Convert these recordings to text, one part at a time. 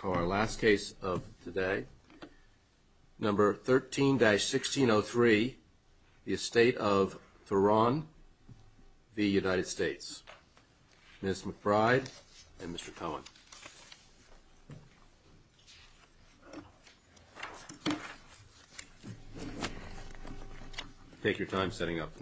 For our last case of today, number 13-1603, The Estate of Thouron v. United States. Ms. McBride and Mr. Cohen. Take your time setting up.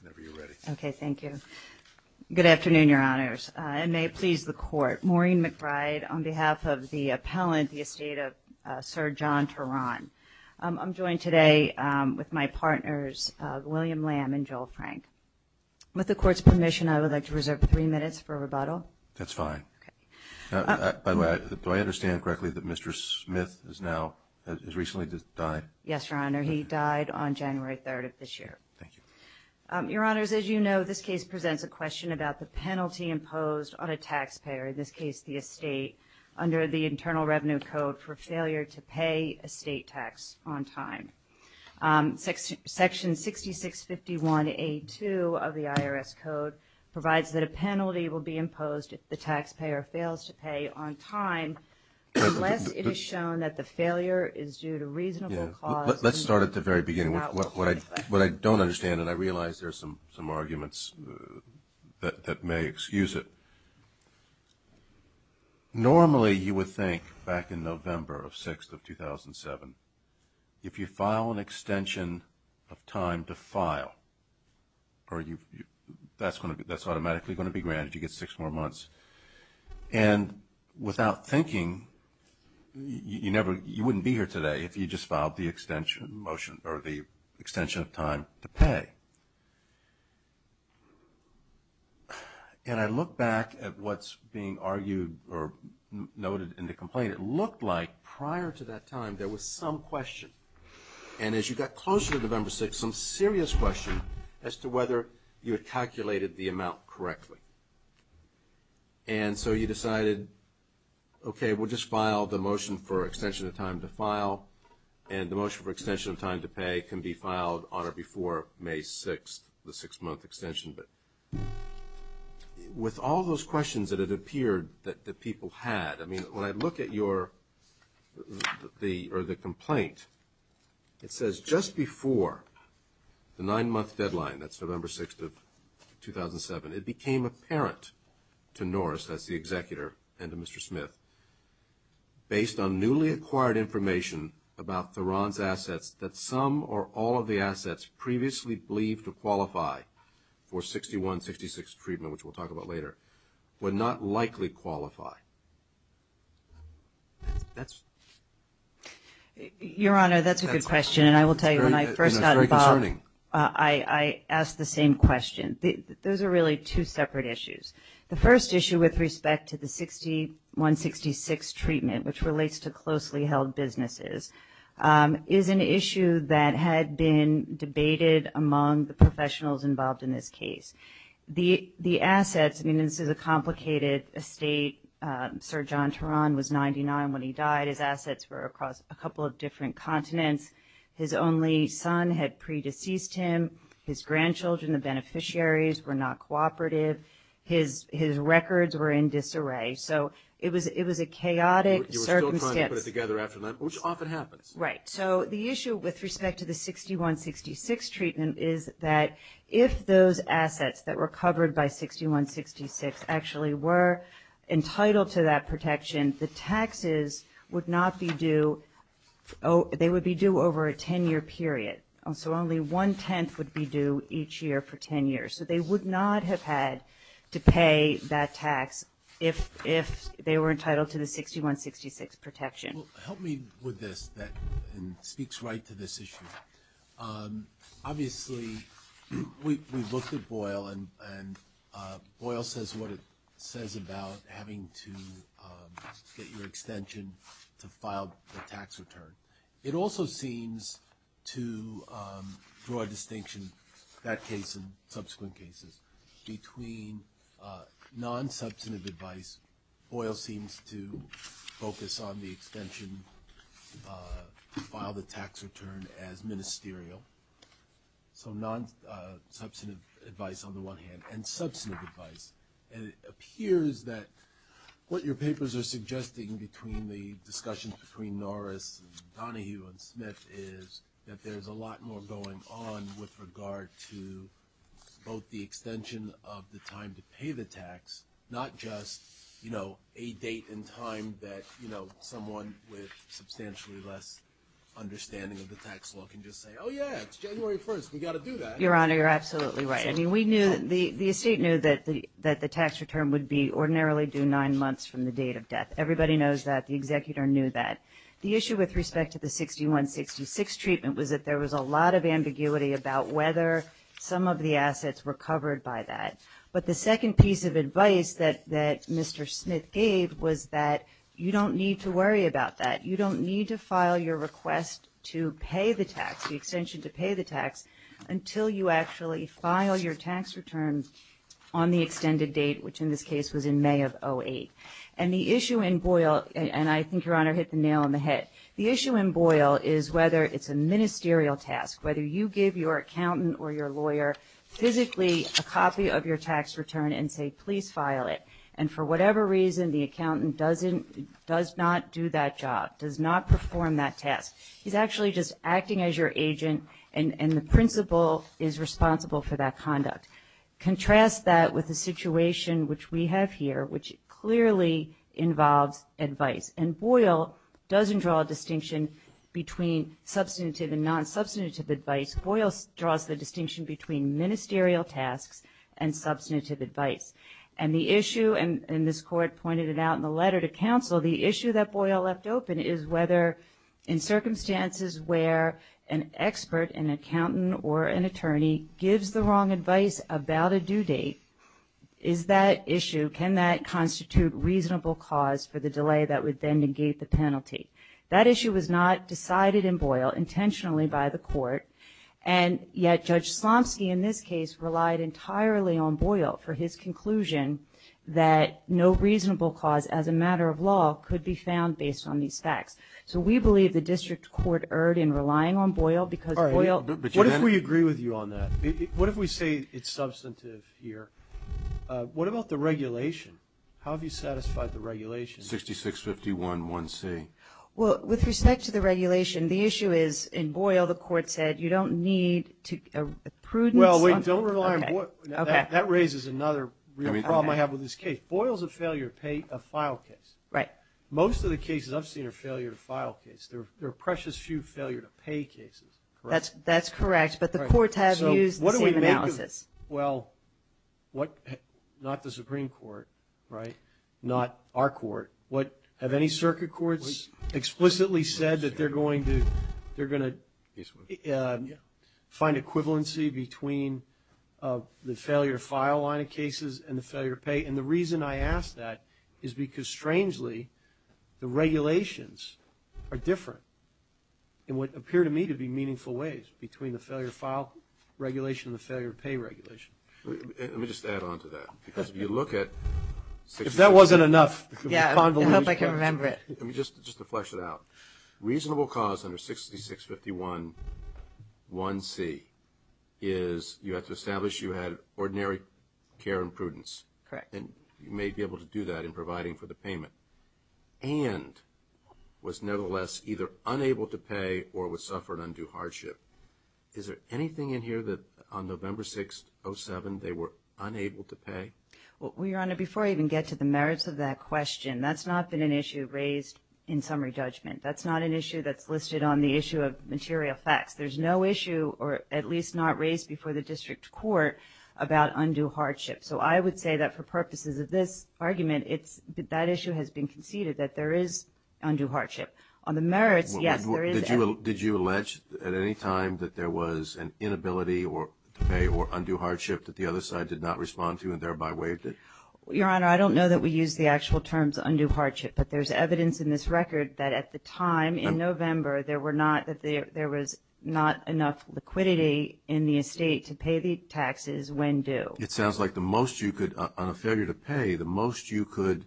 Whenever you're ready. Okay, thank you. Good afternoon, Your Honors. It may please the Court. Maureen McBride on behalf of the appellant, The Estate of Sir John Thouron. I'm joined today with my partners, William Lamb and Joel Frank. With the Court's permission, I would like to reserve three minutes for rebuttal. That's fine. Okay. By the way, do I understand correctly that Mr. Smith has now, has recently died? Yes, Your Honor. He died on January 3rd of this year. Thank you. Your Honors, as you know, this case presents a question about the penalty imposed on a taxpayer, in this case, the estate, under the Internal Revenue Code for failure to pay estate tax on time. Section 6651A2 of the IRS Code provides that a penalty will be imposed if the taxpayer fails to pay on time unless it is shown that the failure is due to reasonable cause. Let's start at the very beginning. What I don't understand, and I realize there's some arguments that may excuse it, normally you would think back in November 6th of 2007, if you file an extension of time to file, that's automatically going to be granted. You get six more months. And without thinking, you wouldn't be here today if you just filed the extension of time to pay. And I look back at what's being argued or noted in the complaint. It looked like prior to that time there was some question, and as you got closer to November 6th, there was some serious question as to whether you had calculated the amount correctly. And so you decided, okay, we'll just file the motion for extension of time to file, and the motion for extension of time to pay can be filed on or before May 6th, the six-month extension. But with all those questions that it appeared that the people had, I mean, when I look at your complaint, it says just before the nine-month deadline, that's November 6th of 2007, it became apparent to Norris, that's the executor, and to Mr. Smith, based on newly acquired information about Theron's assets that some or all of the assets previously believed to qualify for 6166 treatment, which we'll talk about later, would not likely qualify. Your Honor, that's a good question, and I will tell you when I first got involved, I asked the same question. Those are really two separate issues. The first issue with respect to the 6166 treatment, which relates to closely held businesses, is an issue that had been debated among the professionals involved in this case. The assets, I mean, this is a complicated estate. Sir John Theron was 99 when he died. His assets were across a couple of different continents. His only son had pre-deceased him. His grandchildren, the beneficiaries, were not cooperative. His records were in disarray. So it was a chaotic circumstance. You were still trying to put it together after that, which often happens. Right. So the issue with respect to the 6166 treatment is that if those assets that were covered by 6166 actually were entitled to that protection, the taxes would not be due. They would be due over a 10-year period. So only one-tenth would be due each year for 10 years. So they would not have had to pay that tax if they were entitled to the 6166 protection. Well, help me with this that speaks right to this issue. Obviously, we looked at Boyle, and Boyle says what it says about having to get your extension to file the tax return. It also seems to draw a distinction, that case and subsequent cases, between non-substantive advice. Boyle seems to focus on the extension to file the tax return as ministerial, so non-substantive advice on the one hand, and substantive advice. And it appears that what your papers are suggesting between the discussions between Norris and Donahue and Smith is that there's a lot more going on with regard to both the extension of the time to pay the tax, not just a date and time that someone with substantially less understanding of the tax law can just say, oh, yeah, it's January 1st, we've got to do that. Your Honor, you're absolutely right. I mean, the estate knew that the tax return would be ordinarily due nine months from the date of death. Everybody knows that. The executor knew that. The issue with respect to the 6166 treatment was that there was a lot of ambiguity about whether some of the assets were covered by that. But the second piece of advice that Mr. Smith gave was that you don't need to worry about that. You don't need to file your request to pay the tax, the extension to pay the tax, until you actually file your tax return on the extended date, which in this case was in May of 08. And the issue in Boyle, and I think, Your Honor, hit the nail on the head, the issue in Boyle is whether it's a ministerial task, whether you give your accountant or your lawyer physically a copy of your tax return and say, please file it. And for whatever reason, the accountant does not do that job, does not perform that task. He's actually just acting as your agent, and the principal is responsible for that conduct. Contrast that with the situation which we have here, which clearly involves advice. And Boyle doesn't draw a distinction between substantive and non-substantive advice. Boyle draws the distinction between ministerial tasks and substantive advice. And the issue, and this Court pointed it out in the letter to counsel, the issue that Boyle left open is whether in circumstances where an expert, an accountant or an attorney gives the wrong advice about a due date, is that issue, can that constitute reasonable cause for the delay that would then negate the penalty? That issue was not decided in Boyle intentionally by the Court, and yet Judge Slomski, in this case, relied entirely on Boyle for his conclusion that no reasonable cause as a matter of law could be found based on these facts. So we believe the district court erred in relying on Boyle because Boyle What if we agree with you on that? What if we say it's substantive here? What about the regulation? How have you satisfied the regulation? 66-51-1C. Well, with respect to the regulation, the issue is in Boyle, the Court said you don't need to Well, wait, don't rely on Boyle. That raises another real problem I have with this case. Boyle's a failure of file case. Right. Most of the cases I've seen are failure of file cases. There are precious few failure of pay cases. That's correct, but the courts have used the same analysis. Well, not the Supreme Court, right, not our court. Have any circuit courts explicitly said that they're going to find equivalency And the reason I ask that is because, strangely, the regulations are different in what appear to me to be meaningful ways between the failure of file regulation and the failure of pay regulation. Let me just add on to that. Because if you look at If that wasn't enough Yeah, I hope I can remember it. Just to flesh it out. Reasonable cause under 66-51-1C is you have to establish you had ordinary care and prudence. Correct. And you may be able to do that in providing for the payment. And was, nevertheless, either unable to pay or suffered undue hardship. Is there anything in here that on November 6, 07, they were unable to pay? Well, Your Honor, before I even get to the merits of that question, that's not been an issue raised in summary judgment. That's not an issue that's listed on the issue of material facts. There's no issue, or at least not raised before the district court, about undue hardship. So I would say that for purposes of this argument, that issue has been conceded that there is undue hardship. On the merits, yes, there is. Did you allege at any time that there was an inability to pay or undue hardship that the other side did not respond to and thereby waived it? Your Honor, I don't know that we use the actual terms undue hardship. But there's evidence in this record that at the time in November, there was not enough liquidity in the estate to pay the taxes when due. It sounds like the most you could, on a failure to pay, the most you could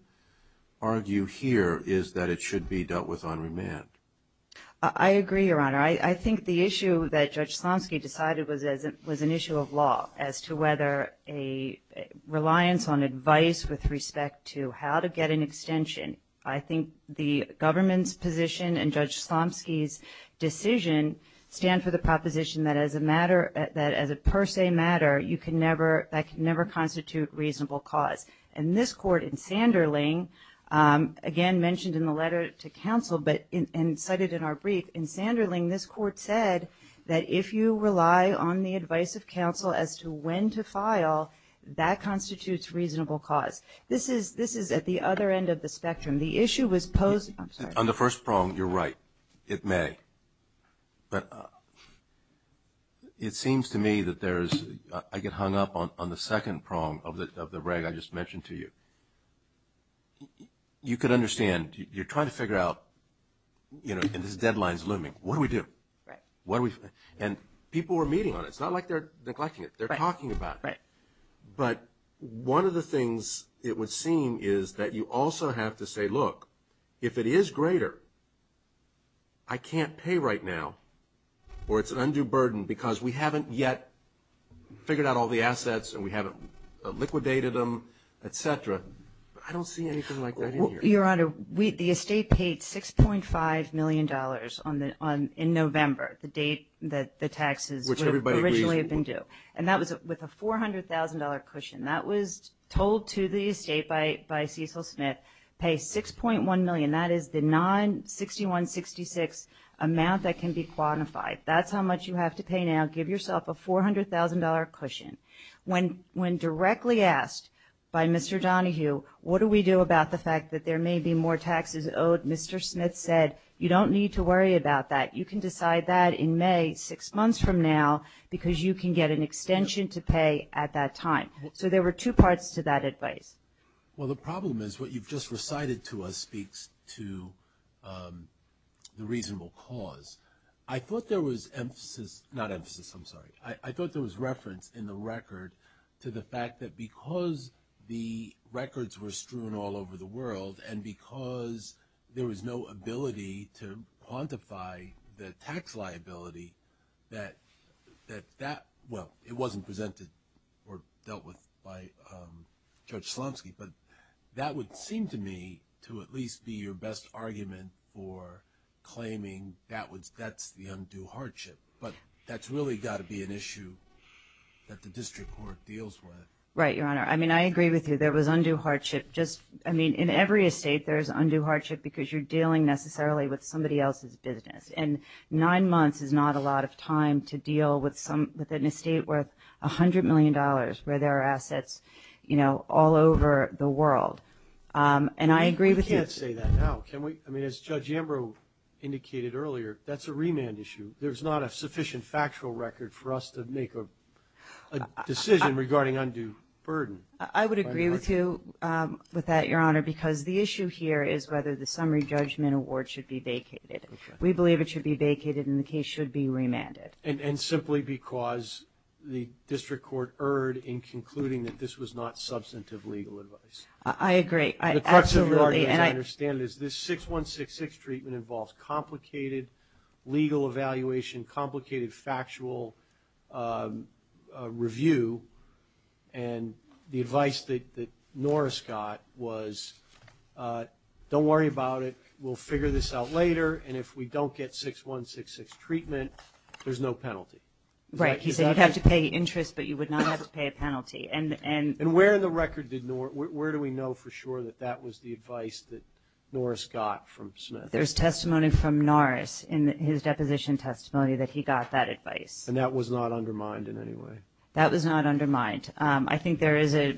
argue here is that it should be dealt with on remand. I agree, Your Honor. I think the issue that Judge Slomski decided was an issue of law as to whether a reliance on advice with respect to how to get an extension. I think the government's position and Judge Slomski's decision stand for the proposition that as a per se matter, that can never constitute reasonable cause. In this court, in Sanderling, again mentioned in the letter to counsel and cited in our brief, in Sanderling, this court said that if you rely on the advice of counsel as to when to file, that constitutes reasonable cause. This is at the other end of the spectrum. On the first prong, you're right. It may. But it seems to me that I get hung up on the second prong of the reg I just mentioned to you. You could understand, you're trying to figure out, you know, and this deadline's looming, what do we do? And people are meeting on it. It's not like they're neglecting it. They're talking about it. But one of the things it would seem is that you also have to say, look, if it is greater, I can't pay right now or it's an undue burden because we haven't yet figured out all the assets and we haven't liquidated them, et cetera. I don't see anything like that in here. Your Honor, the estate paid $6.5 million in November, the date that the taxes would have originally been due. And that was with a $400,000 cushion. That was told to the estate by Cecil Smith, pay $6.1 million. That is the non-6166 amount that can be quantified. That's how much you have to pay now. Give yourself a $400,000 cushion. When directly asked by Mr. Donohue, what do we do about the fact that there may be more taxes owed, Mr. Smith said, you don't need to worry about that. You can decide that in May, six months from now, because you can get an extension to pay at that time. So there were two parts to that advice. Well, the problem is what you've just recited to us speaks to the reasonable cause. I thought there was emphasis, not emphasis, I'm sorry. I thought there was reference in the record to the fact that because the records were strewn all over the world and because there was no ability to quantify the tax liability that that, well, it wasn't presented or dealt with by Judge Slomski. But that would seem to me to at least be your best argument for claiming that's the undue hardship. But that's really got to be an issue that the district court deals with. Right, Your Honor. I mean, I agree with you. There was undue hardship. Just, I mean, in every estate there's undue hardship because you're dealing necessarily with somebody else's business. And nine months is not a lot of time to deal with an estate worth $100 million where there are assets, you know, all over the world. And I agree with you. We can't say that now, can we? I mean, as Judge Ambrose indicated earlier, that's a remand issue. There's not a sufficient factual record for us to make a decision regarding undue burden. I would agree with you with that, Your Honor, because the issue here is whether the summary judgment award should be vacated. We believe it should be vacated and the case should be remanded. And simply because the district court erred in concluding that this was not substantive legal advice. I agree. The crux of your argument, as I understand it, is this 6166 treatment involves complicated legal evaluation, complicated factual review. And the advice that Norris got was, don't worry about it, we'll figure this out later, and if we don't get 6166 treatment, there's no penalty. Right. He said you'd have to pay interest, but you would not have to pay a penalty. And where in the record did Norris, where do we know for sure that that was the advice that Norris got from Smith? There's testimony from Norris in his deposition testimony that he got that advice. And that was not undermined in any way? That was not undermined. I think there is a,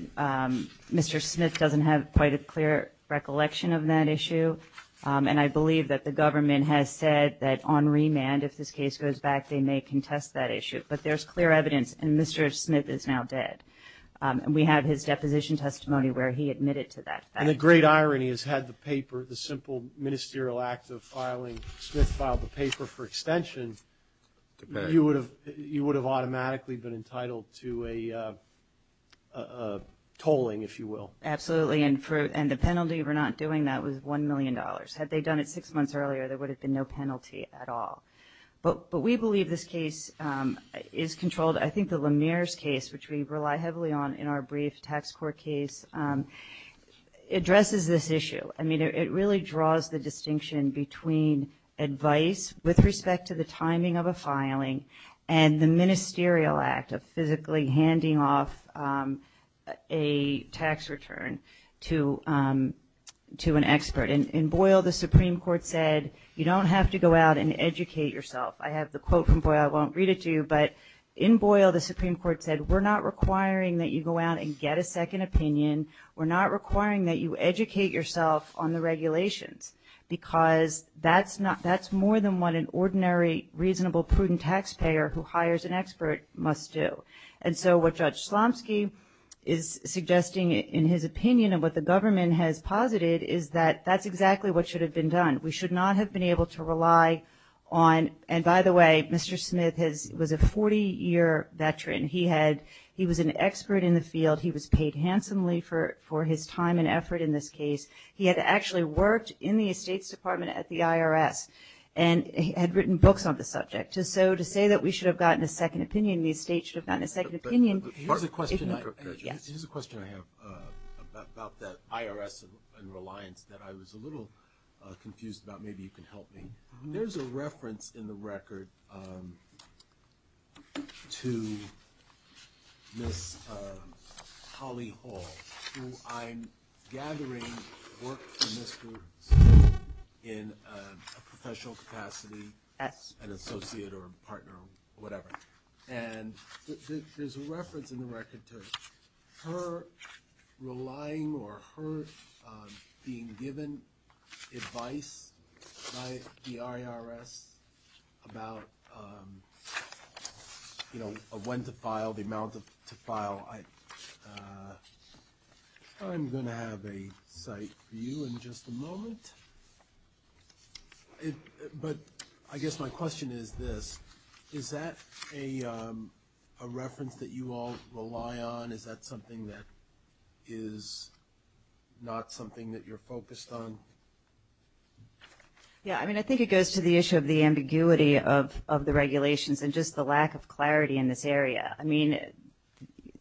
Mr. Smith doesn't have quite a clear recollection of that issue. And I believe that the government has said that on remand, if this case goes back, they may contest that issue. But there's clear evidence, and Mr. Smith is now dead. And we have his deposition testimony where he admitted to that fact. And the great irony is, had the paper, the simple ministerial act of filing, Smith filed the paper for extension, you would have automatically been entitled to a tolling, if you will. Absolutely. And the penalty for not doing that was $1 million. Had they done it six months earlier, there would have been no penalty at all. But we believe this case is controlled. I think the Lemire's case, which we rely heavily on in our brief tax court case, addresses this issue. I mean, it really draws the distinction between advice with respect to the timing of a filing and the ministerial act of physically handing off a tax return to an expert. And in Boyle, the Supreme Court said, you don't have to go out and educate yourself. I have the quote from Boyle. I won't read it to you. But in Boyle, the Supreme Court said, we're not requiring that you go out and get a second opinion. We're not requiring that you educate yourself on the regulations, because that's more than what an ordinary, reasonable, prudent taxpayer who hires an expert must do. And so what Judge Slomski is suggesting in his opinion and what the government has posited is that that's exactly what should have been done. We should not have been able to rely on, and by the way, Mr. Smith was a 40-year veteran. He was an expert in the field. He was paid handsomely for his time and effort in this case. He had actually worked in the Estates Department at the IRS and had written books on the subject. So to say that we should have gotten a second opinion, the Estates should have gotten a second opinion. Here's a question I have about that IRS and reliance that I was a little confused about. Maybe you can help me. There's a reference in the record to Ms. Holly Hall, who I'm gathering worked for Ms. Grubbs in a professional capacity, an associate or a partner or whatever. And there's a reference in the record to her relying or her being given advice by the IRS about when to file, the amount to file. I'm going to have a cite for you in just a moment. But I guess my question is this. Is that a reference that you all rely on? Is that something that is not something that you're focused on? Yeah, I mean, I think it goes to the issue of the ambiguity of the regulations and just the lack of clarity in this area. I mean,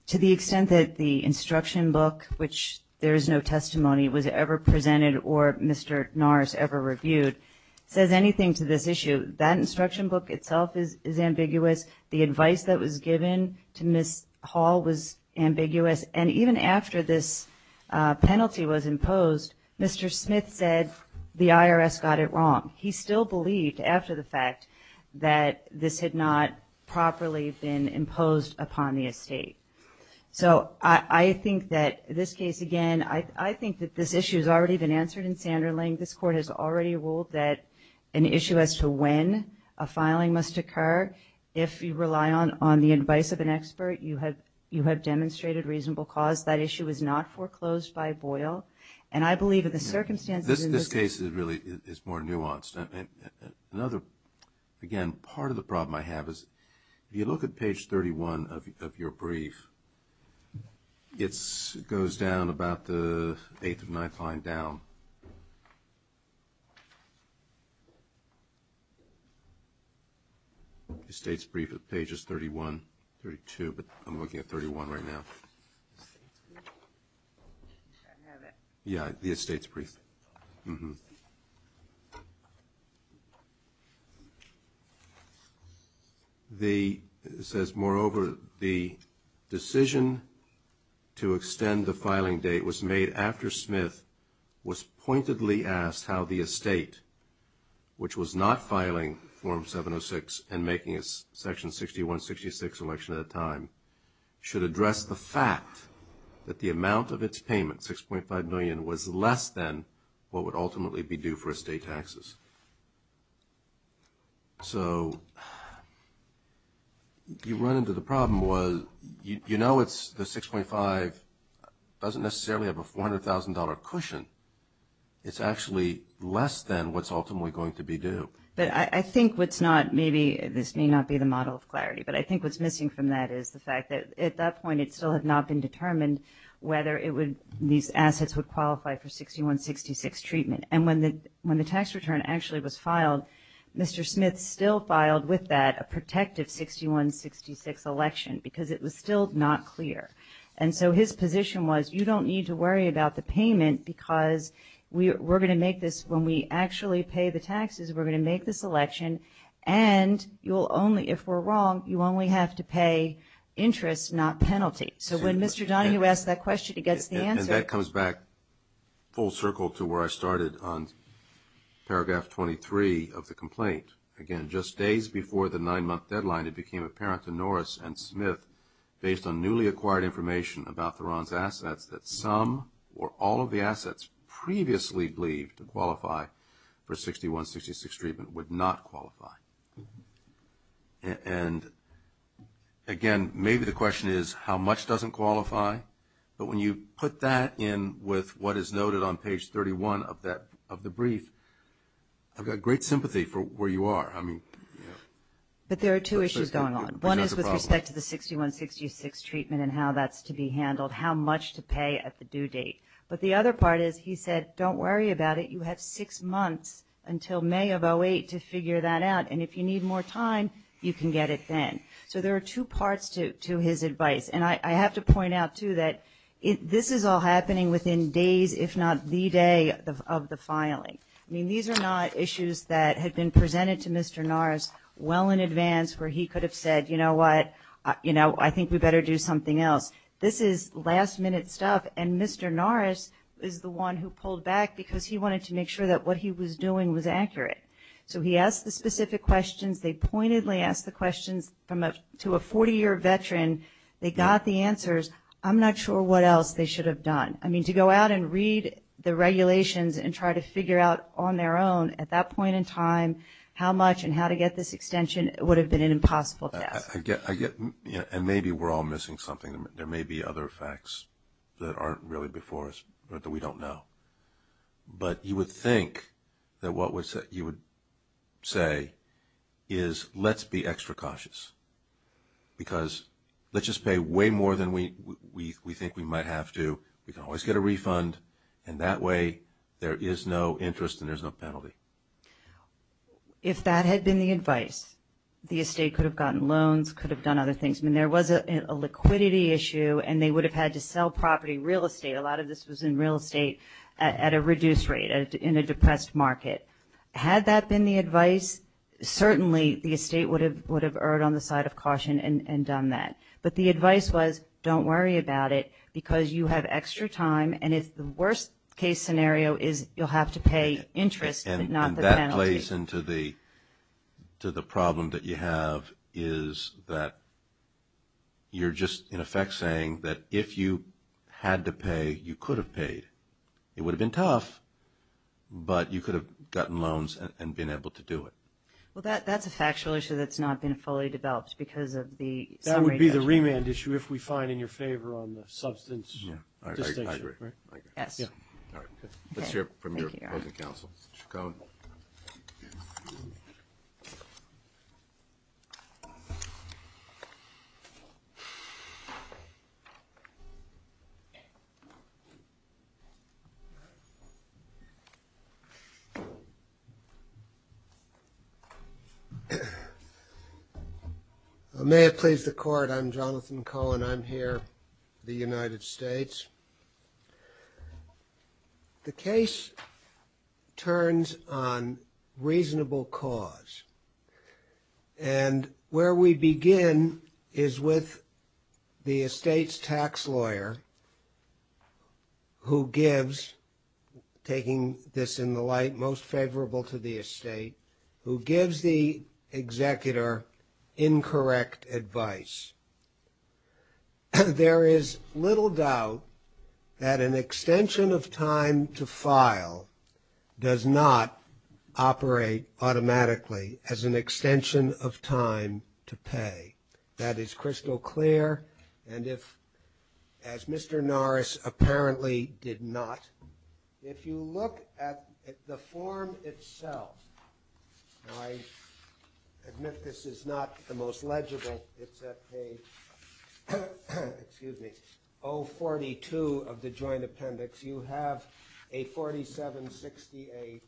to the extent that the instruction book, which there is no testimony, was ever presented or Mr. Norris ever reviewed, says anything to this issue, that instruction book itself is ambiguous. The advice that was given to Ms. Hall was ambiguous. And even after this penalty was imposed, Mr. Smith said the IRS got it wrong. He still believed, after the fact, that this had not properly been imposed upon the estate. So I think that this case, again, I think that this issue has already been answered in Sanderling. This Court has already ruled that an issue as to when a filing must occur, if you rely on the advice of an expert, you have demonstrated reasonable cause. That issue is not foreclosed by Boyle. And I believe that the circumstances in this case is really more nuanced. Another, again, part of the problem I have is if you look at page 31 of your brief, it goes down about the eighth or ninth line down. The estate's brief at pages 31, 32, but I'm looking at 31 right now. Yeah, the estate's brief. It says, moreover, the decision to extend the filing date was made after Smith was pointedly asked how the estate, which was not filing Form 706 and making a Section 6166 election at the time, should address the fact that the amount of its payment, $6.5 million, was less than what would ultimately be due for estate taxes. So you run into the problem. You know it's the $6.5 doesn't necessarily have a $400,000 cushion. It's actually less than what's ultimately going to be due. But I think what's not, maybe this may not be the model of clarity, but I think what's missing from that is the fact that at that point, it still had not been determined whether these assets would qualify for 6166 treatment. And when the tax return actually was filed, Mr. Smith still filed with that a protective 6166 election because it was still not clear. And so his position was, you don't need to worry about the payment because we're going to make this, when we actually pay the taxes, we're going to make this election and you'll only, if we're wrong, you only have to pay interest, not penalty. So when Mr. Donahue asked that question, he gets the answer. And that comes back full circle to where I started on paragraph 23 of the complaint. Again, just days before the nine-month deadline, it became apparent to Norris and Smith, based on newly acquired information about Theron's assets, that some or all of the assets previously believed to qualify for 6166 treatment would not qualify. And again, maybe the question is how much doesn't qualify, but when you put that in with what is noted on page 31 of the brief, I've got great sympathy for where you are. But there are two issues going on. One is with respect to the 6166 treatment and how that's to be handled, how much to pay at the due date. But the other part is, he said, don't worry about it, you have six months until May of 08 to figure that out. And if you need more time, you can get it then. So there are two parts to his advice. And I have to point out, too, that this is all happening within days, if not the day of the filing. I mean, these are not issues that had been presented to Mr. Norris well in advance where he could have said, you know what, you know, I think we better do something else. This is last-minute stuff, and Mr. Norris is the one who pulled back because he wanted to make sure that what he was doing was accurate. So he asked the specific questions, they pointedly asked the questions to a 40-year veteran, they got the answers. I'm not sure what else they should have done. I mean, to go out and read the regulations and try to figure out on their own at that point in time how much and how to get this extension would have been an impossible task. And maybe we're all missing something. There may be other facts that aren't really before us or that we don't know. But you would think that what you would say is let's be extra cautious because let's just pay way more than we think we might have to. We can always get a refund, and that way there is no interest and there's no penalty. If that had been the advice, the estate could have gotten loans, could have done other things. I mean, there was a liquidity issue, and they would have had to sell property, real estate. A lot of this was in real estate at a reduced rate in a depressed market. Had that been the advice, certainly the estate would have erred on the side of caution and done that. But the advice was don't worry about it because you have extra time, and if the worst-case scenario is you'll have to pay interest but not the penalty. The only place into the problem that you have is that you're just in effect saying that if you had to pay, you could have paid. It would have been tough, but you could have gotten loans and been able to do it. Well, that's a factual issue that's not been fully developed because of the summary judgment. I agree. Let's hear it from your opposing counsel. Mr. Cohen. May it please the Court. I'm Jonathan Cohen. I'm here, the United States. The case turns on reasonable cause, and where we begin is with the estate's tax lawyer who gives, taking this in the light, most favorable to the estate, who gives the executor incorrect advice. There is little doubt that an extension of time to file does not operate automatically as an extension of time to pay. That is crystal clear, and if, as Mr. Norris apparently did not, if you look at the form itself, I admit this is not the most legible. It's at page 042 of the joint appendix. You have a 4768,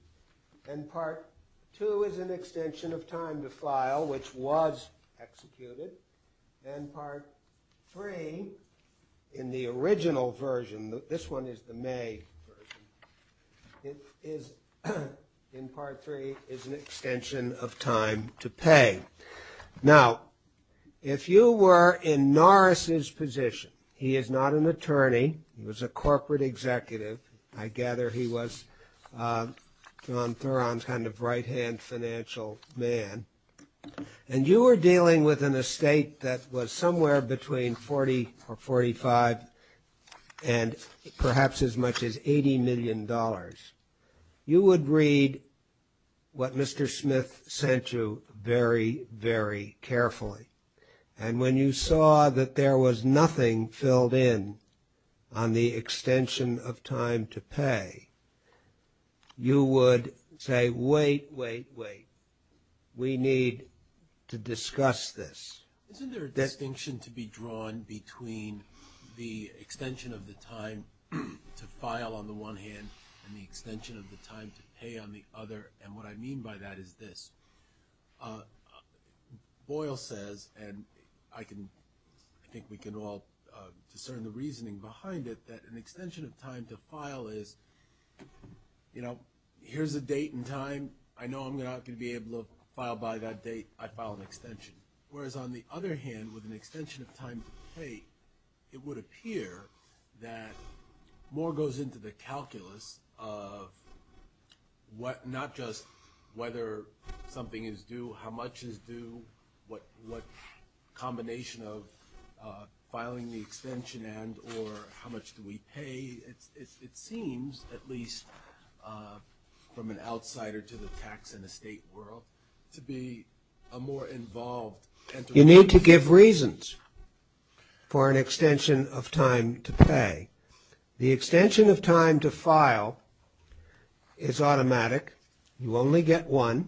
and Part 2 is an extension of time to file, which was executed. And Part 3, in the original version, this one is the May version, in Part 3 is an extension of time to pay. Now, if you were in Norris's position, he is not an attorney, he was a corporate executive, I gather he was John Theron's kind of right-hand financial man, and you were dealing with an estate that was somewhere between $40 or $45 and perhaps as much as $80 million, you would read what Mr. Smith sent you very clearly. Very carefully, and when you saw that there was nothing filled in on the extension of time to pay, you would say, wait, wait, wait, we need to discuss this. Isn't there a distinction to be drawn between the extension of the time to file on the one hand and the extension of the time to pay on the other? And what I mean by that is this. Boyle says, and I think we can all discern the reasoning behind it, that an extension of time to file is, you know, here's a date and time, I know I'm not going to be able to file by that date, I file an extension. Whereas, on the other hand, with an extension of time to pay, it would appear that more goes into the calculus of what not just the extension of time to pay, but the extension of time to pay. It's not just whether something is due, how much is due, what combination of filing the extension and or how much do we pay. It seems, at least from an outsider to the tax and estate world, to be a more involved entity. You need to give reasons for an extension of time to pay. The extension of time to file is automatic, you only get one.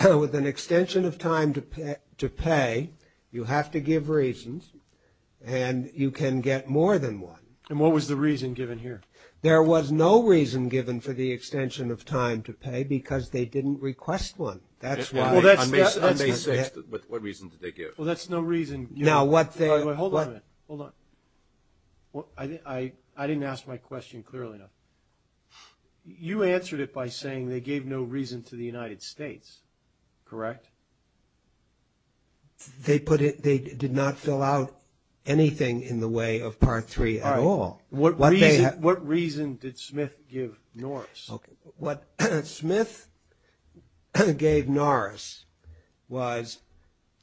With an extension of time to pay, you have to give reasons, and you can get more than one. And what was the reason given here? There was no reason given for the extension of time to pay because they didn't request one. On May 6th, what reason did they give? I didn't ask my question clearly enough. You answered it by saying they gave no reason to the United States, correct? They did not fill out anything in the way of Part 3 at all. What reason did Smith give Norris? What Smith gave Norris was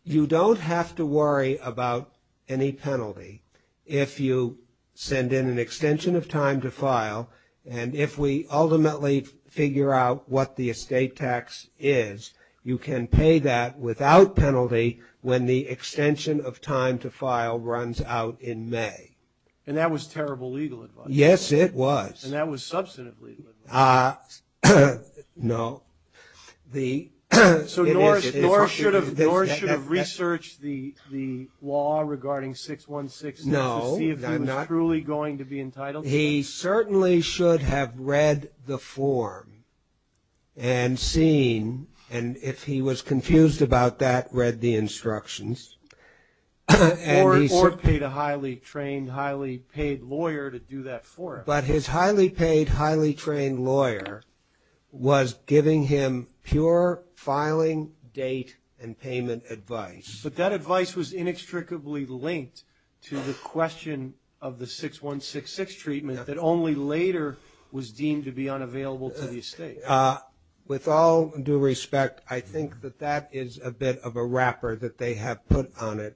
you don't have to worry about any penalty if you send in an extension of time to file, and if we ultimately figure out what the estate tax is, you can pay that without penalty when the extension of time to file runs out in May. And that was terrible legal advice? Yes, it was. And that was substantive legal advice? No. Norris should have researched the law regarding 616 to see if he was truly going to be entitled to it? But his highly paid, highly trained lawyer was giving him pure filing date and payment advice. But that advice was inextricably linked to the question of the 6166 treatment that only later was deemed to be unavailable to the estate. With all due respect, I think that that is a bit of a wrapper that they have put on it.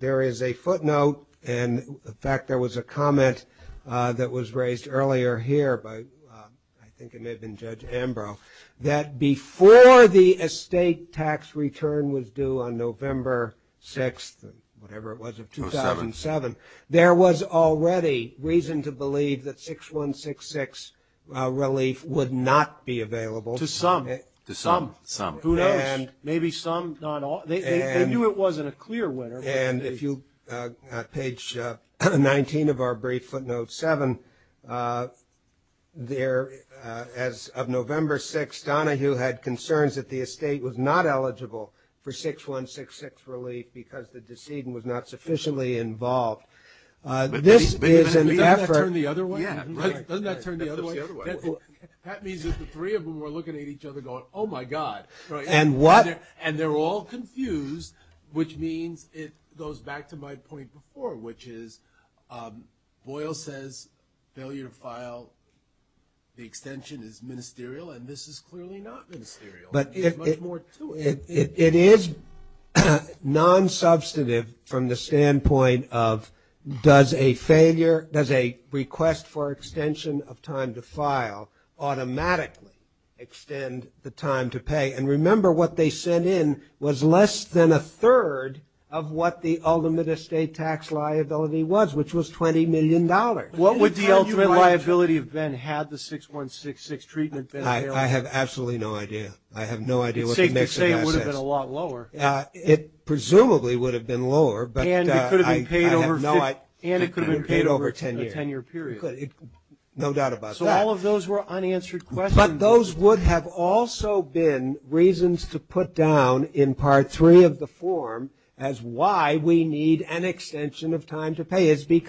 There is a footnote, and in fact there was a comment that was raised earlier here by I think it may have been Judge Ambrose, that before the estate tax return was due on November 6th, whatever it was, of 2007, there was already reason to believe that 6166 relief would not be available. To some. To some. Who knows? Maybe some. They knew it wasn't a clear winner. Page 19 of our brief footnote 7, as of November 6th, Donahue had concerns that the estate was not eligible for 6166 relief because the decedent was not sufficiently involved. Doesn't that turn the other way? That means that the three of them were looking at each other going, oh, my God. And what? And they're all confused, which means it goes back to my point before, which is Boyle says failure to file the extension is ministerial, and this is clearly not ministerial. There's much more to it. It is nonsubstantive from the standpoint of does a failure, does a request for extension of time to file automatically extend the time to pay? And remember what they sent in was less than a third of what the ultimate estate tax liability was, which was $20 million. What would the ultimate liability have been had the 6166 treatment been failed? I have absolutely no idea. I have no idea what the mix of assets. It's safe to say it would have been a lot lower. It presumably would have been lower, but I have no idea. And it could have been paid over a 10-year period. No doubt about that. So all of those were unanswered questions. But those would have also been reasons to put down in Part III of the form as why we need an extension of time to pay. We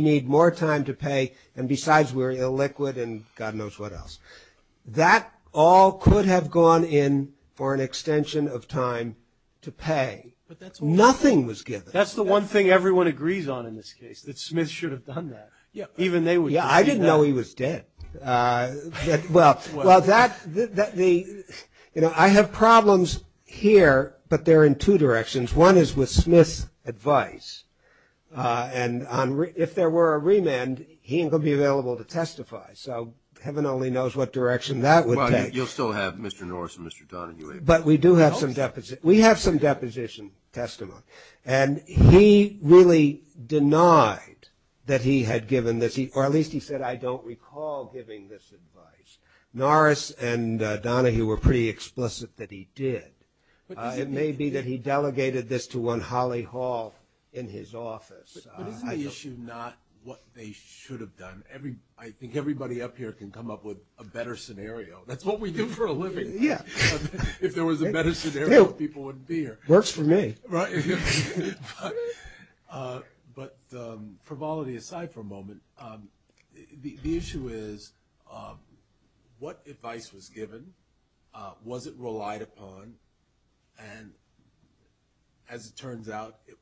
need more time to pay, and besides we're illiquid and God knows what else. That all could have gone in for an extension of time to pay. Nothing was given. That's the one thing everyone agrees on in this case, that Smith should have done that. Yeah, I didn't know he was dead. Well, I have problems here, but they're in two directions. One is with Smith's advice, and if there were a remand, he ain't going to be available to testify. So heaven only knows what direction that would take. Well, you'll still have Mr. Norris and Mr. Donahue. But we do have some deposition testimony. And he really denied that he had given this, or at least he said, I don't recall giving this advice. Norris and Donahue were pretty explicit that he did. It may be that he delegated this to one Holly Hall in his office. But isn't the issue not what they should have done? I think everybody up here can come up with a better scenario. That's what we do for a living. Yeah. If there was a better scenario, people wouldn't be here. Works for me. Right. But for volatility aside for a moment, the issue is what advice was given, was it relied upon, and as it turns out, it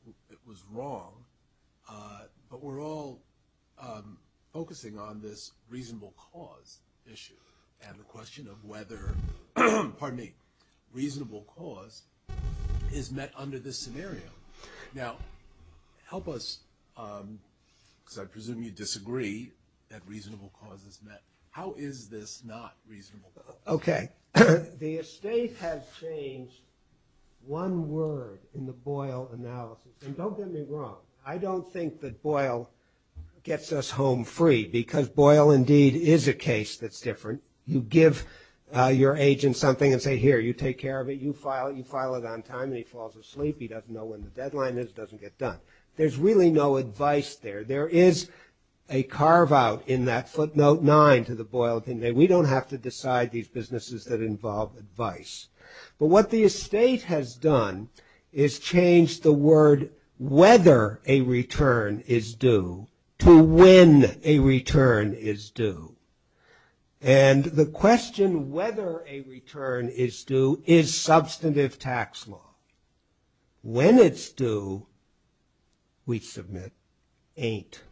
was wrong. But we're all focusing on this reasonable cause issue and the question of whether, pardon me, reasonable cause is met under this scenario. Now, help us, because I presume you disagree that reasonable cause is met. How is this not reasonable? Okay. The estate has changed one word in the Boyle analysis, and don't get me wrong. I don't think that Boyle gets us home free, because Boyle indeed is a case that's different. You give your agent something and say, here, you take care of it. You file it on time, and he falls asleep. He doesn't know when the deadline is. It doesn't get done. There's really no advice there. There is a carve-out in that footnote nine to the Boyle thing. We don't have to decide these businesses that involve advice. But what the estate has done is changed the word whether a return is due to when a return is due. And the question whether a return is due is substantive tax law. When it's due, we submit ain't.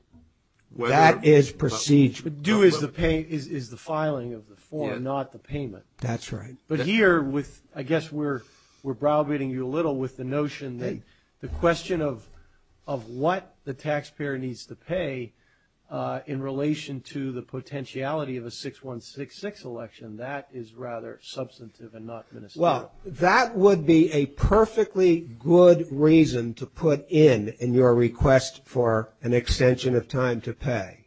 That is procedural. But due is the filing of the form, not the payment. That's right. But here, I guess we're browbeating you a little with the notion that the question of what the taxpayer needs to pay in relation to the potentiality of a 6166 election, that is rather substantive and not ministerial. Well, that would be a perfectly good reason to put in in your request for an extension of time to pay.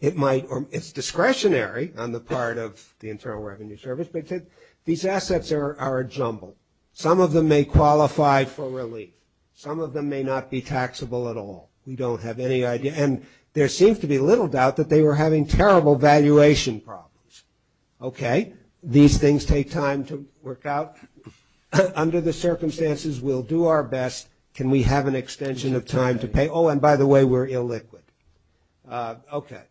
It's discretionary on the part of the Internal Revenue Service, but these assets are a jumble. Some of them may qualify for relief. Some of them may not be taxable at all. We don't have any idea. And there seems to be little doubt that they were having terrible valuation problems. Okay. These things take time to work out. Under the circumstances, we'll do our best. Can we have an extension of time to pay? Oh, and by the way, we're illiquid. Okay.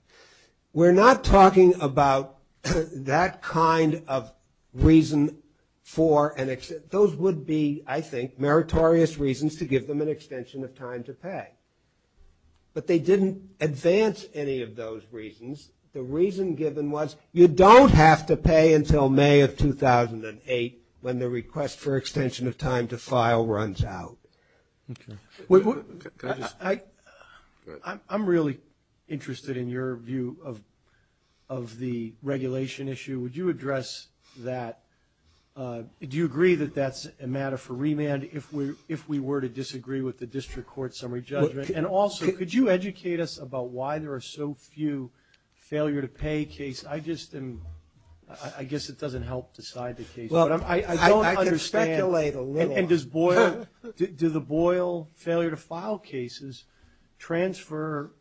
We're not talking about that kind of reason for an extension. Those would be, I think, meritorious reasons to give them an extension of time to pay. But they didn't advance any of those reasons. The reason given was you don't have to pay until May of 2008 when the request for extension of time to file runs out. Okay. I'm really interested in your view of the regulation issue. Would you address that? Do you agree that that's a matter for remand if we were to disagree with the district court summary judgment? And also, could you educate us about why there are so few failure-to-pay cases? I guess it doesn't help decide the case. I can speculate a little. And do the Boyle failure-to-file cases transfer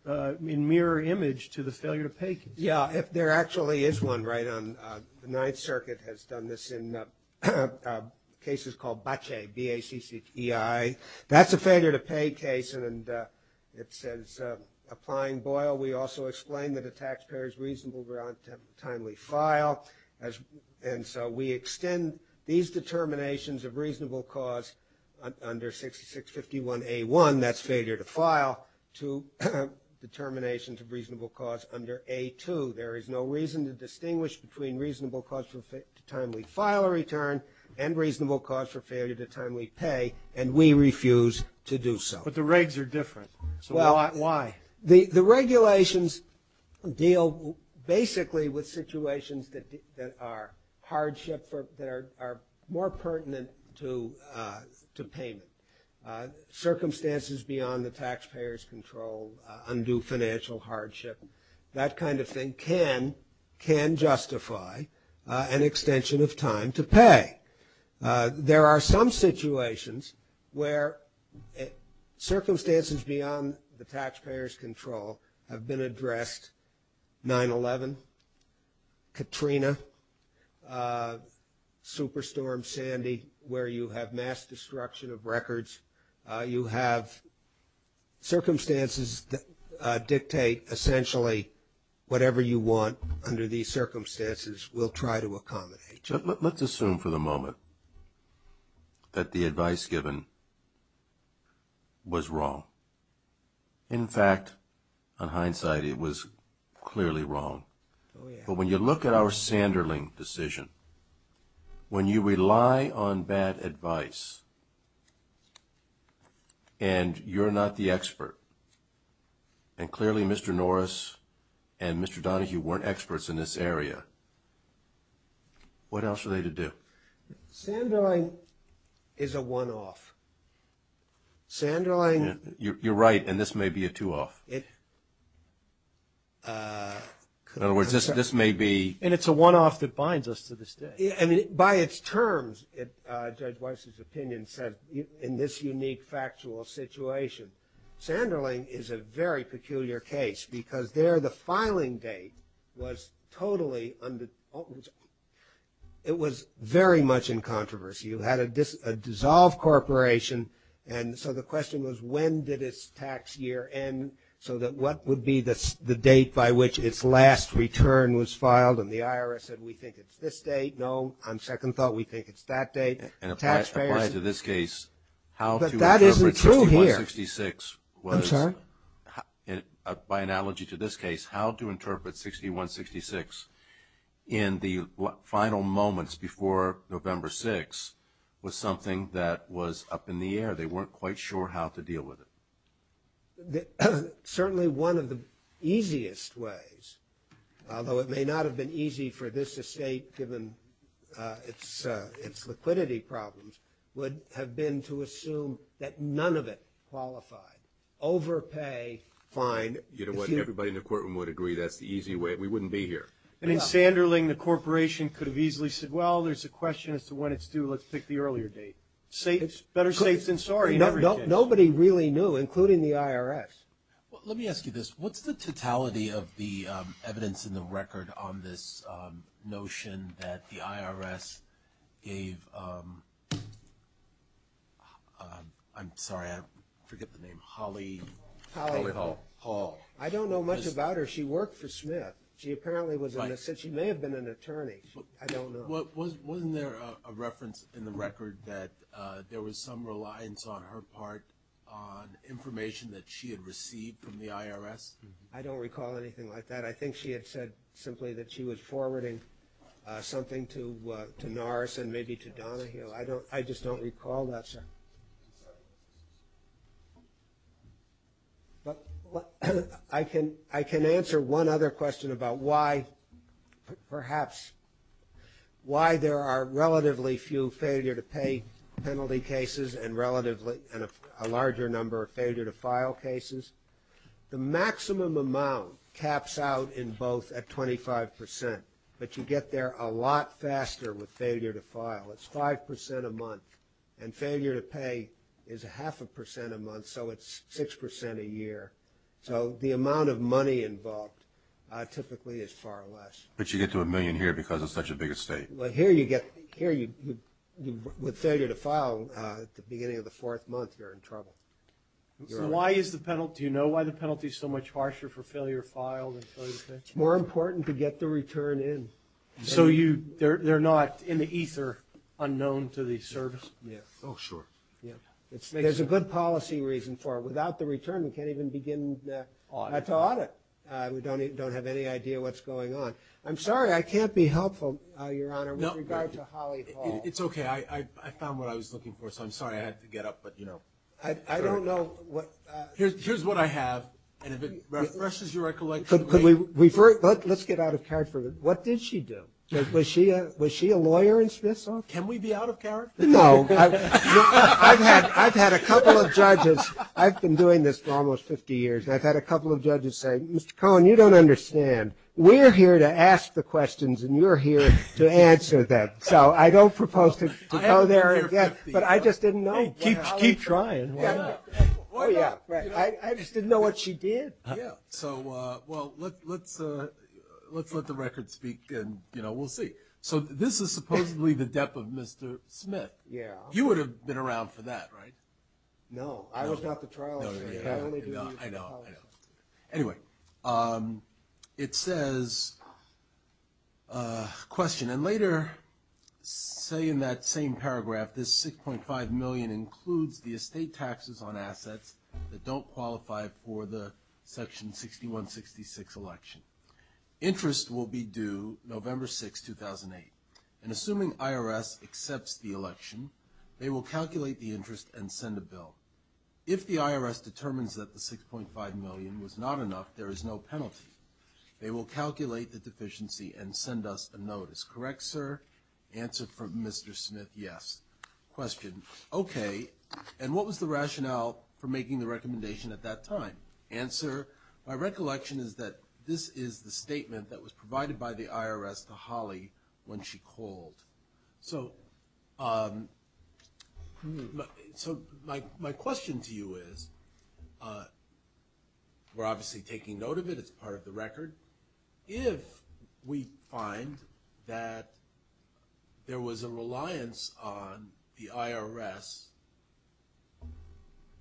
in mirror image to the failure-to-pay cases? Yeah. There actually is one, right? The Ninth Circuit has done this in cases called BACCI, B-A-C-C-I. That's a failure-to-pay case. And it says, applying Boyle, we also explain that a taxpayer's reasonable grant of timely file. And so we extend these determinations of reasonable cause under 6651A1, that's failure-to-file, to determinations of reasonable cause under A2. There is no reason to distinguish between reasonable cause for timely file or return and reasonable cause for failure-to-timely pay, and we refuse to do so. But the regs are different. Why? Well, the regulations deal basically with situations that are hardship, that are more pertinent to payment. Circumstances beyond the taxpayer's control, undue financial hardship, that kind of thing can justify an extension of time to pay. There are some situations where circumstances beyond the taxpayer's control have been addressed. 9-11, Katrina, Superstorm Sandy, where you have mass destruction of records. You have circumstances that dictate essentially whatever you want under these circumstances, we'll try to accommodate you. Let's assume for the moment that the advice given was wrong. In fact, in hindsight, it was clearly wrong. But when you look at our Sanderling decision, when you rely on bad advice, and you're not the expert, and clearly Mr. Norris and Mr. Donahue weren't experts in this area, what else are they to do? Sanderling is a one-off. You're right, and this may be a two-off. In other words, this may be. And it's a one-off that binds us to this day. By its terms, Judge Weiss's opinion said, in this unique factual situation, Sanderling is a very peculiar case because there the filing date was totally, it was very much in controversy. You had a dissolved corporation, and so the question was, when did its tax year end, so that what would be the date by which its last return was filed? And the IRS said, we think it's this date. No, on second thought, we think it's that date. But that isn't true here. I'm sorry? By analogy to this case, how to interpret 6166 in the final moments before November 6th was something that was up in the air. They weren't quite sure how to deal with it. Certainly one of the easiest ways, although it may not have been easy for this estate given its liquidity problems, would have been to assume that none of it qualified. Overpay, fine. You know what? Everybody in the courtroom would agree that's the easy way. We wouldn't be here. I mean, Sanderling, the corporation, could have easily said, well, there's a question as to when it's due. Let's pick the earlier date. Better safe than sorry. Nobody really knew, including the IRS. Well, let me ask you this. What's the totality of the evidence in the record on this notion that the IRS gave – I'm sorry, I forget the name. Holly – Holly Hall. Hall. I don't know much about her. She worked for Smith. She apparently was in this. She may have been an attorney. I don't know. Wasn't there a reference in the record that there was some reliance on her part on information that she had received from the IRS? I don't recall anything like that. I think she had said simply that she was forwarding something to Norris and maybe to Donahue. I just don't recall that, sir. I can answer one other question about why, perhaps, why there are relatively few failure-to-pay penalty cases and a larger number of failure-to-file cases. The maximum amount caps out in both at 25 percent, but you get there a lot faster with failure-to-file. It's 5 percent a month, and failure-to-pay is half a percent a month, so it's 6 percent a year. So the amount of money involved typically is far less. But you get to a million here because it's such a big estate. Well, here you get – here, with failure-to-file, at the beginning of the fourth month, you're in trouble. So why is the penalty – do you know why the penalty is so much harsher for failure-to-file than failure-to-pay? It's more important to get the return in. So you – they're not in the ether unknown to the service? Yeah. Oh, sure. Yeah. There's a good policy reason for it. Without the return, we can't even begin to audit. We don't have any idea what's going on. I'm sorry, I can't be helpful, Your Honor, with regard to Holly Hall. It's okay. I found what I was looking for, so I'm sorry I had to get up, but, you know. I don't know what – Here's what I have, and if it refreshes your recollection. Let's get out of carrot for a minute. What did she do? Was she a lawyer in Smith's office? Can we be out of carrot? No. I've had a couple of judges – I've been doing this for almost 50 years, and I've had a couple of judges say, Mr. Cohen, you don't understand. We're here to ask the questions, and you're here to answer them. So I don't propose to go there again. I haven't been here 50 years. But I just didn't know. Hey, keep trying. Why not? Oh, yeah, right. I just didn't know what she did. Yeah. So, well, let's let the record speak, and, you know, we'll see. So this is supposedly the death of Mr. Smith. Yeah. He would have been around for that, right? No. I was not the trial judge. I know. I know. Anyway, it says – question. And later, say in that same paragraph, this $6.5 million includes the estate taxes on assets that don't qualify for the Section 6166 election. Interest will be due November 6, 2008. And assuming IRS accepts the election, they will calculate the interest and send a bill. If the IRS determines that the $6.5 million was not enough, there is no penalty. They will calculate the deficiency and send us a notice. Correct, sir? Answer from Mr. Smith, yes. Question. Okay. And what was the rationale for making the recommendation at that time? Answer. My recollection is that this is the statement that was provided by the IRS to Holly when she called. So my question to you is – we're obviously taking note of it. It's part of the record. If we find that there was a reliance on the IRS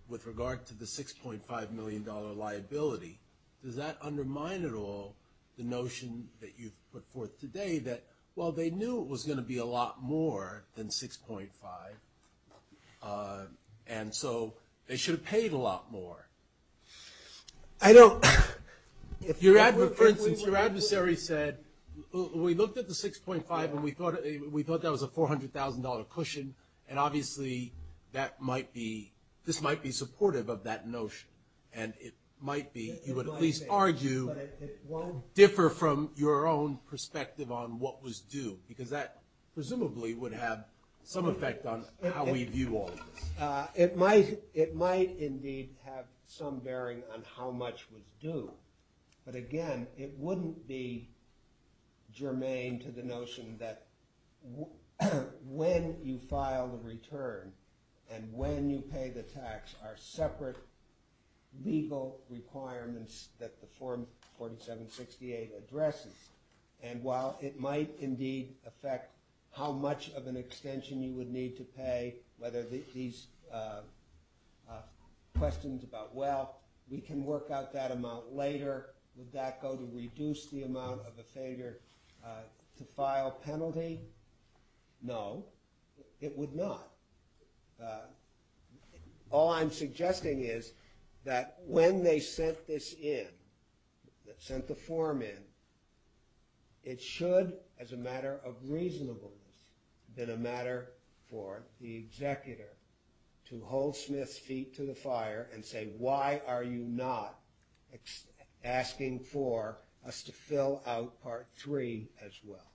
with regard to the $6.5 million liability, does that undermine at all the notion that you've put forth today that, well, they knew it was going to be a lot more than $6.5, and so they should have paid a lot more? I don't – for instance, your adversary said, we looked at the $6.5 and we thought that was a $400,000 cushion, and obviously that might be – this might be supportive of that notion. And it might be, you would at least argue, differ from your own perspective on what was due, because that presumably would have some effect on how we view all of this. It might indeed have some bearing on how much was due. But, again, it wouldn't be germane to the notion that when you file the return and when you pay the tax are separate legal requirements that the Form 4768 addresses. And while it might indeed affect how much of an extension you would need to pay, whether these questions about, well, we can work out that amount later, would that go to reduce the amount of a failure to file penalty? No, it would not. All I'm suggesting is that when they sent this in, sent the form in, it should, as a matter of reasonableness, been a matter for the executor to hold Smith's feet to the fire and say, why are you not asking for us to fill out Part 3 as well?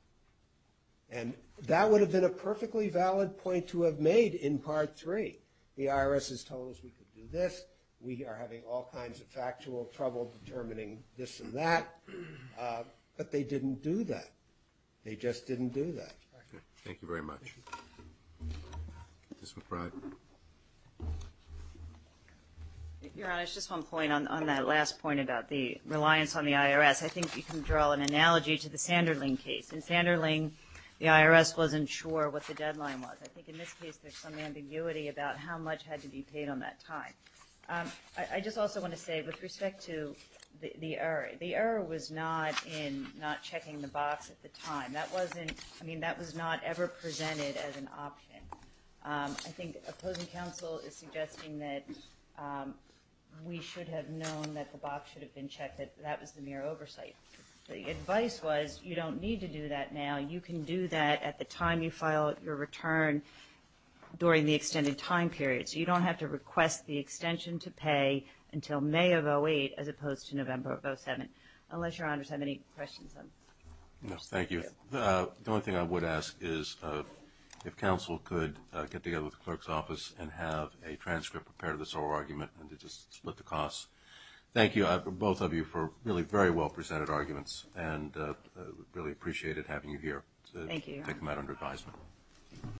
And that would have been a perfectly valid point to have made in Part 3. The IRS has told us we could do this. We are having all kinds of factual trouble determining this and that. But they didn't do that. They just didn't do that. Thank you very much. Ms. McBride. Your Honor, just one point on that last point about the reliance on the IRS. I think you can draw an analogy to the Sanderling case. In Sanderling, the IRS wasn't sure what the deadline was. I think in this case there's some ambiguity about how much had to be paid on that time. I just also want to say, with respect to the error, the error was not in not checking the box at the time. That was not ever presented as an option. I think opposing counsel is suggesting that we should have known that the box should have been checked, that that was the mere oversight. The advice was you don't need to do that now. You can do that at the time you file your return during the extended time period. So you don't have to request the extension to pay until May of 2008 as opposed to November of 2007. Unless Your Honors have any questions on that. No, thank you. The only thing I would ask is if counsel could get together with the clerk's office and have a transcript prepared of this oral argument and to just split the costs. Thank you, both of you, for really very well presented arguments, and we really appreciated having you here to take them out under advisement. Thank you, Your Honor.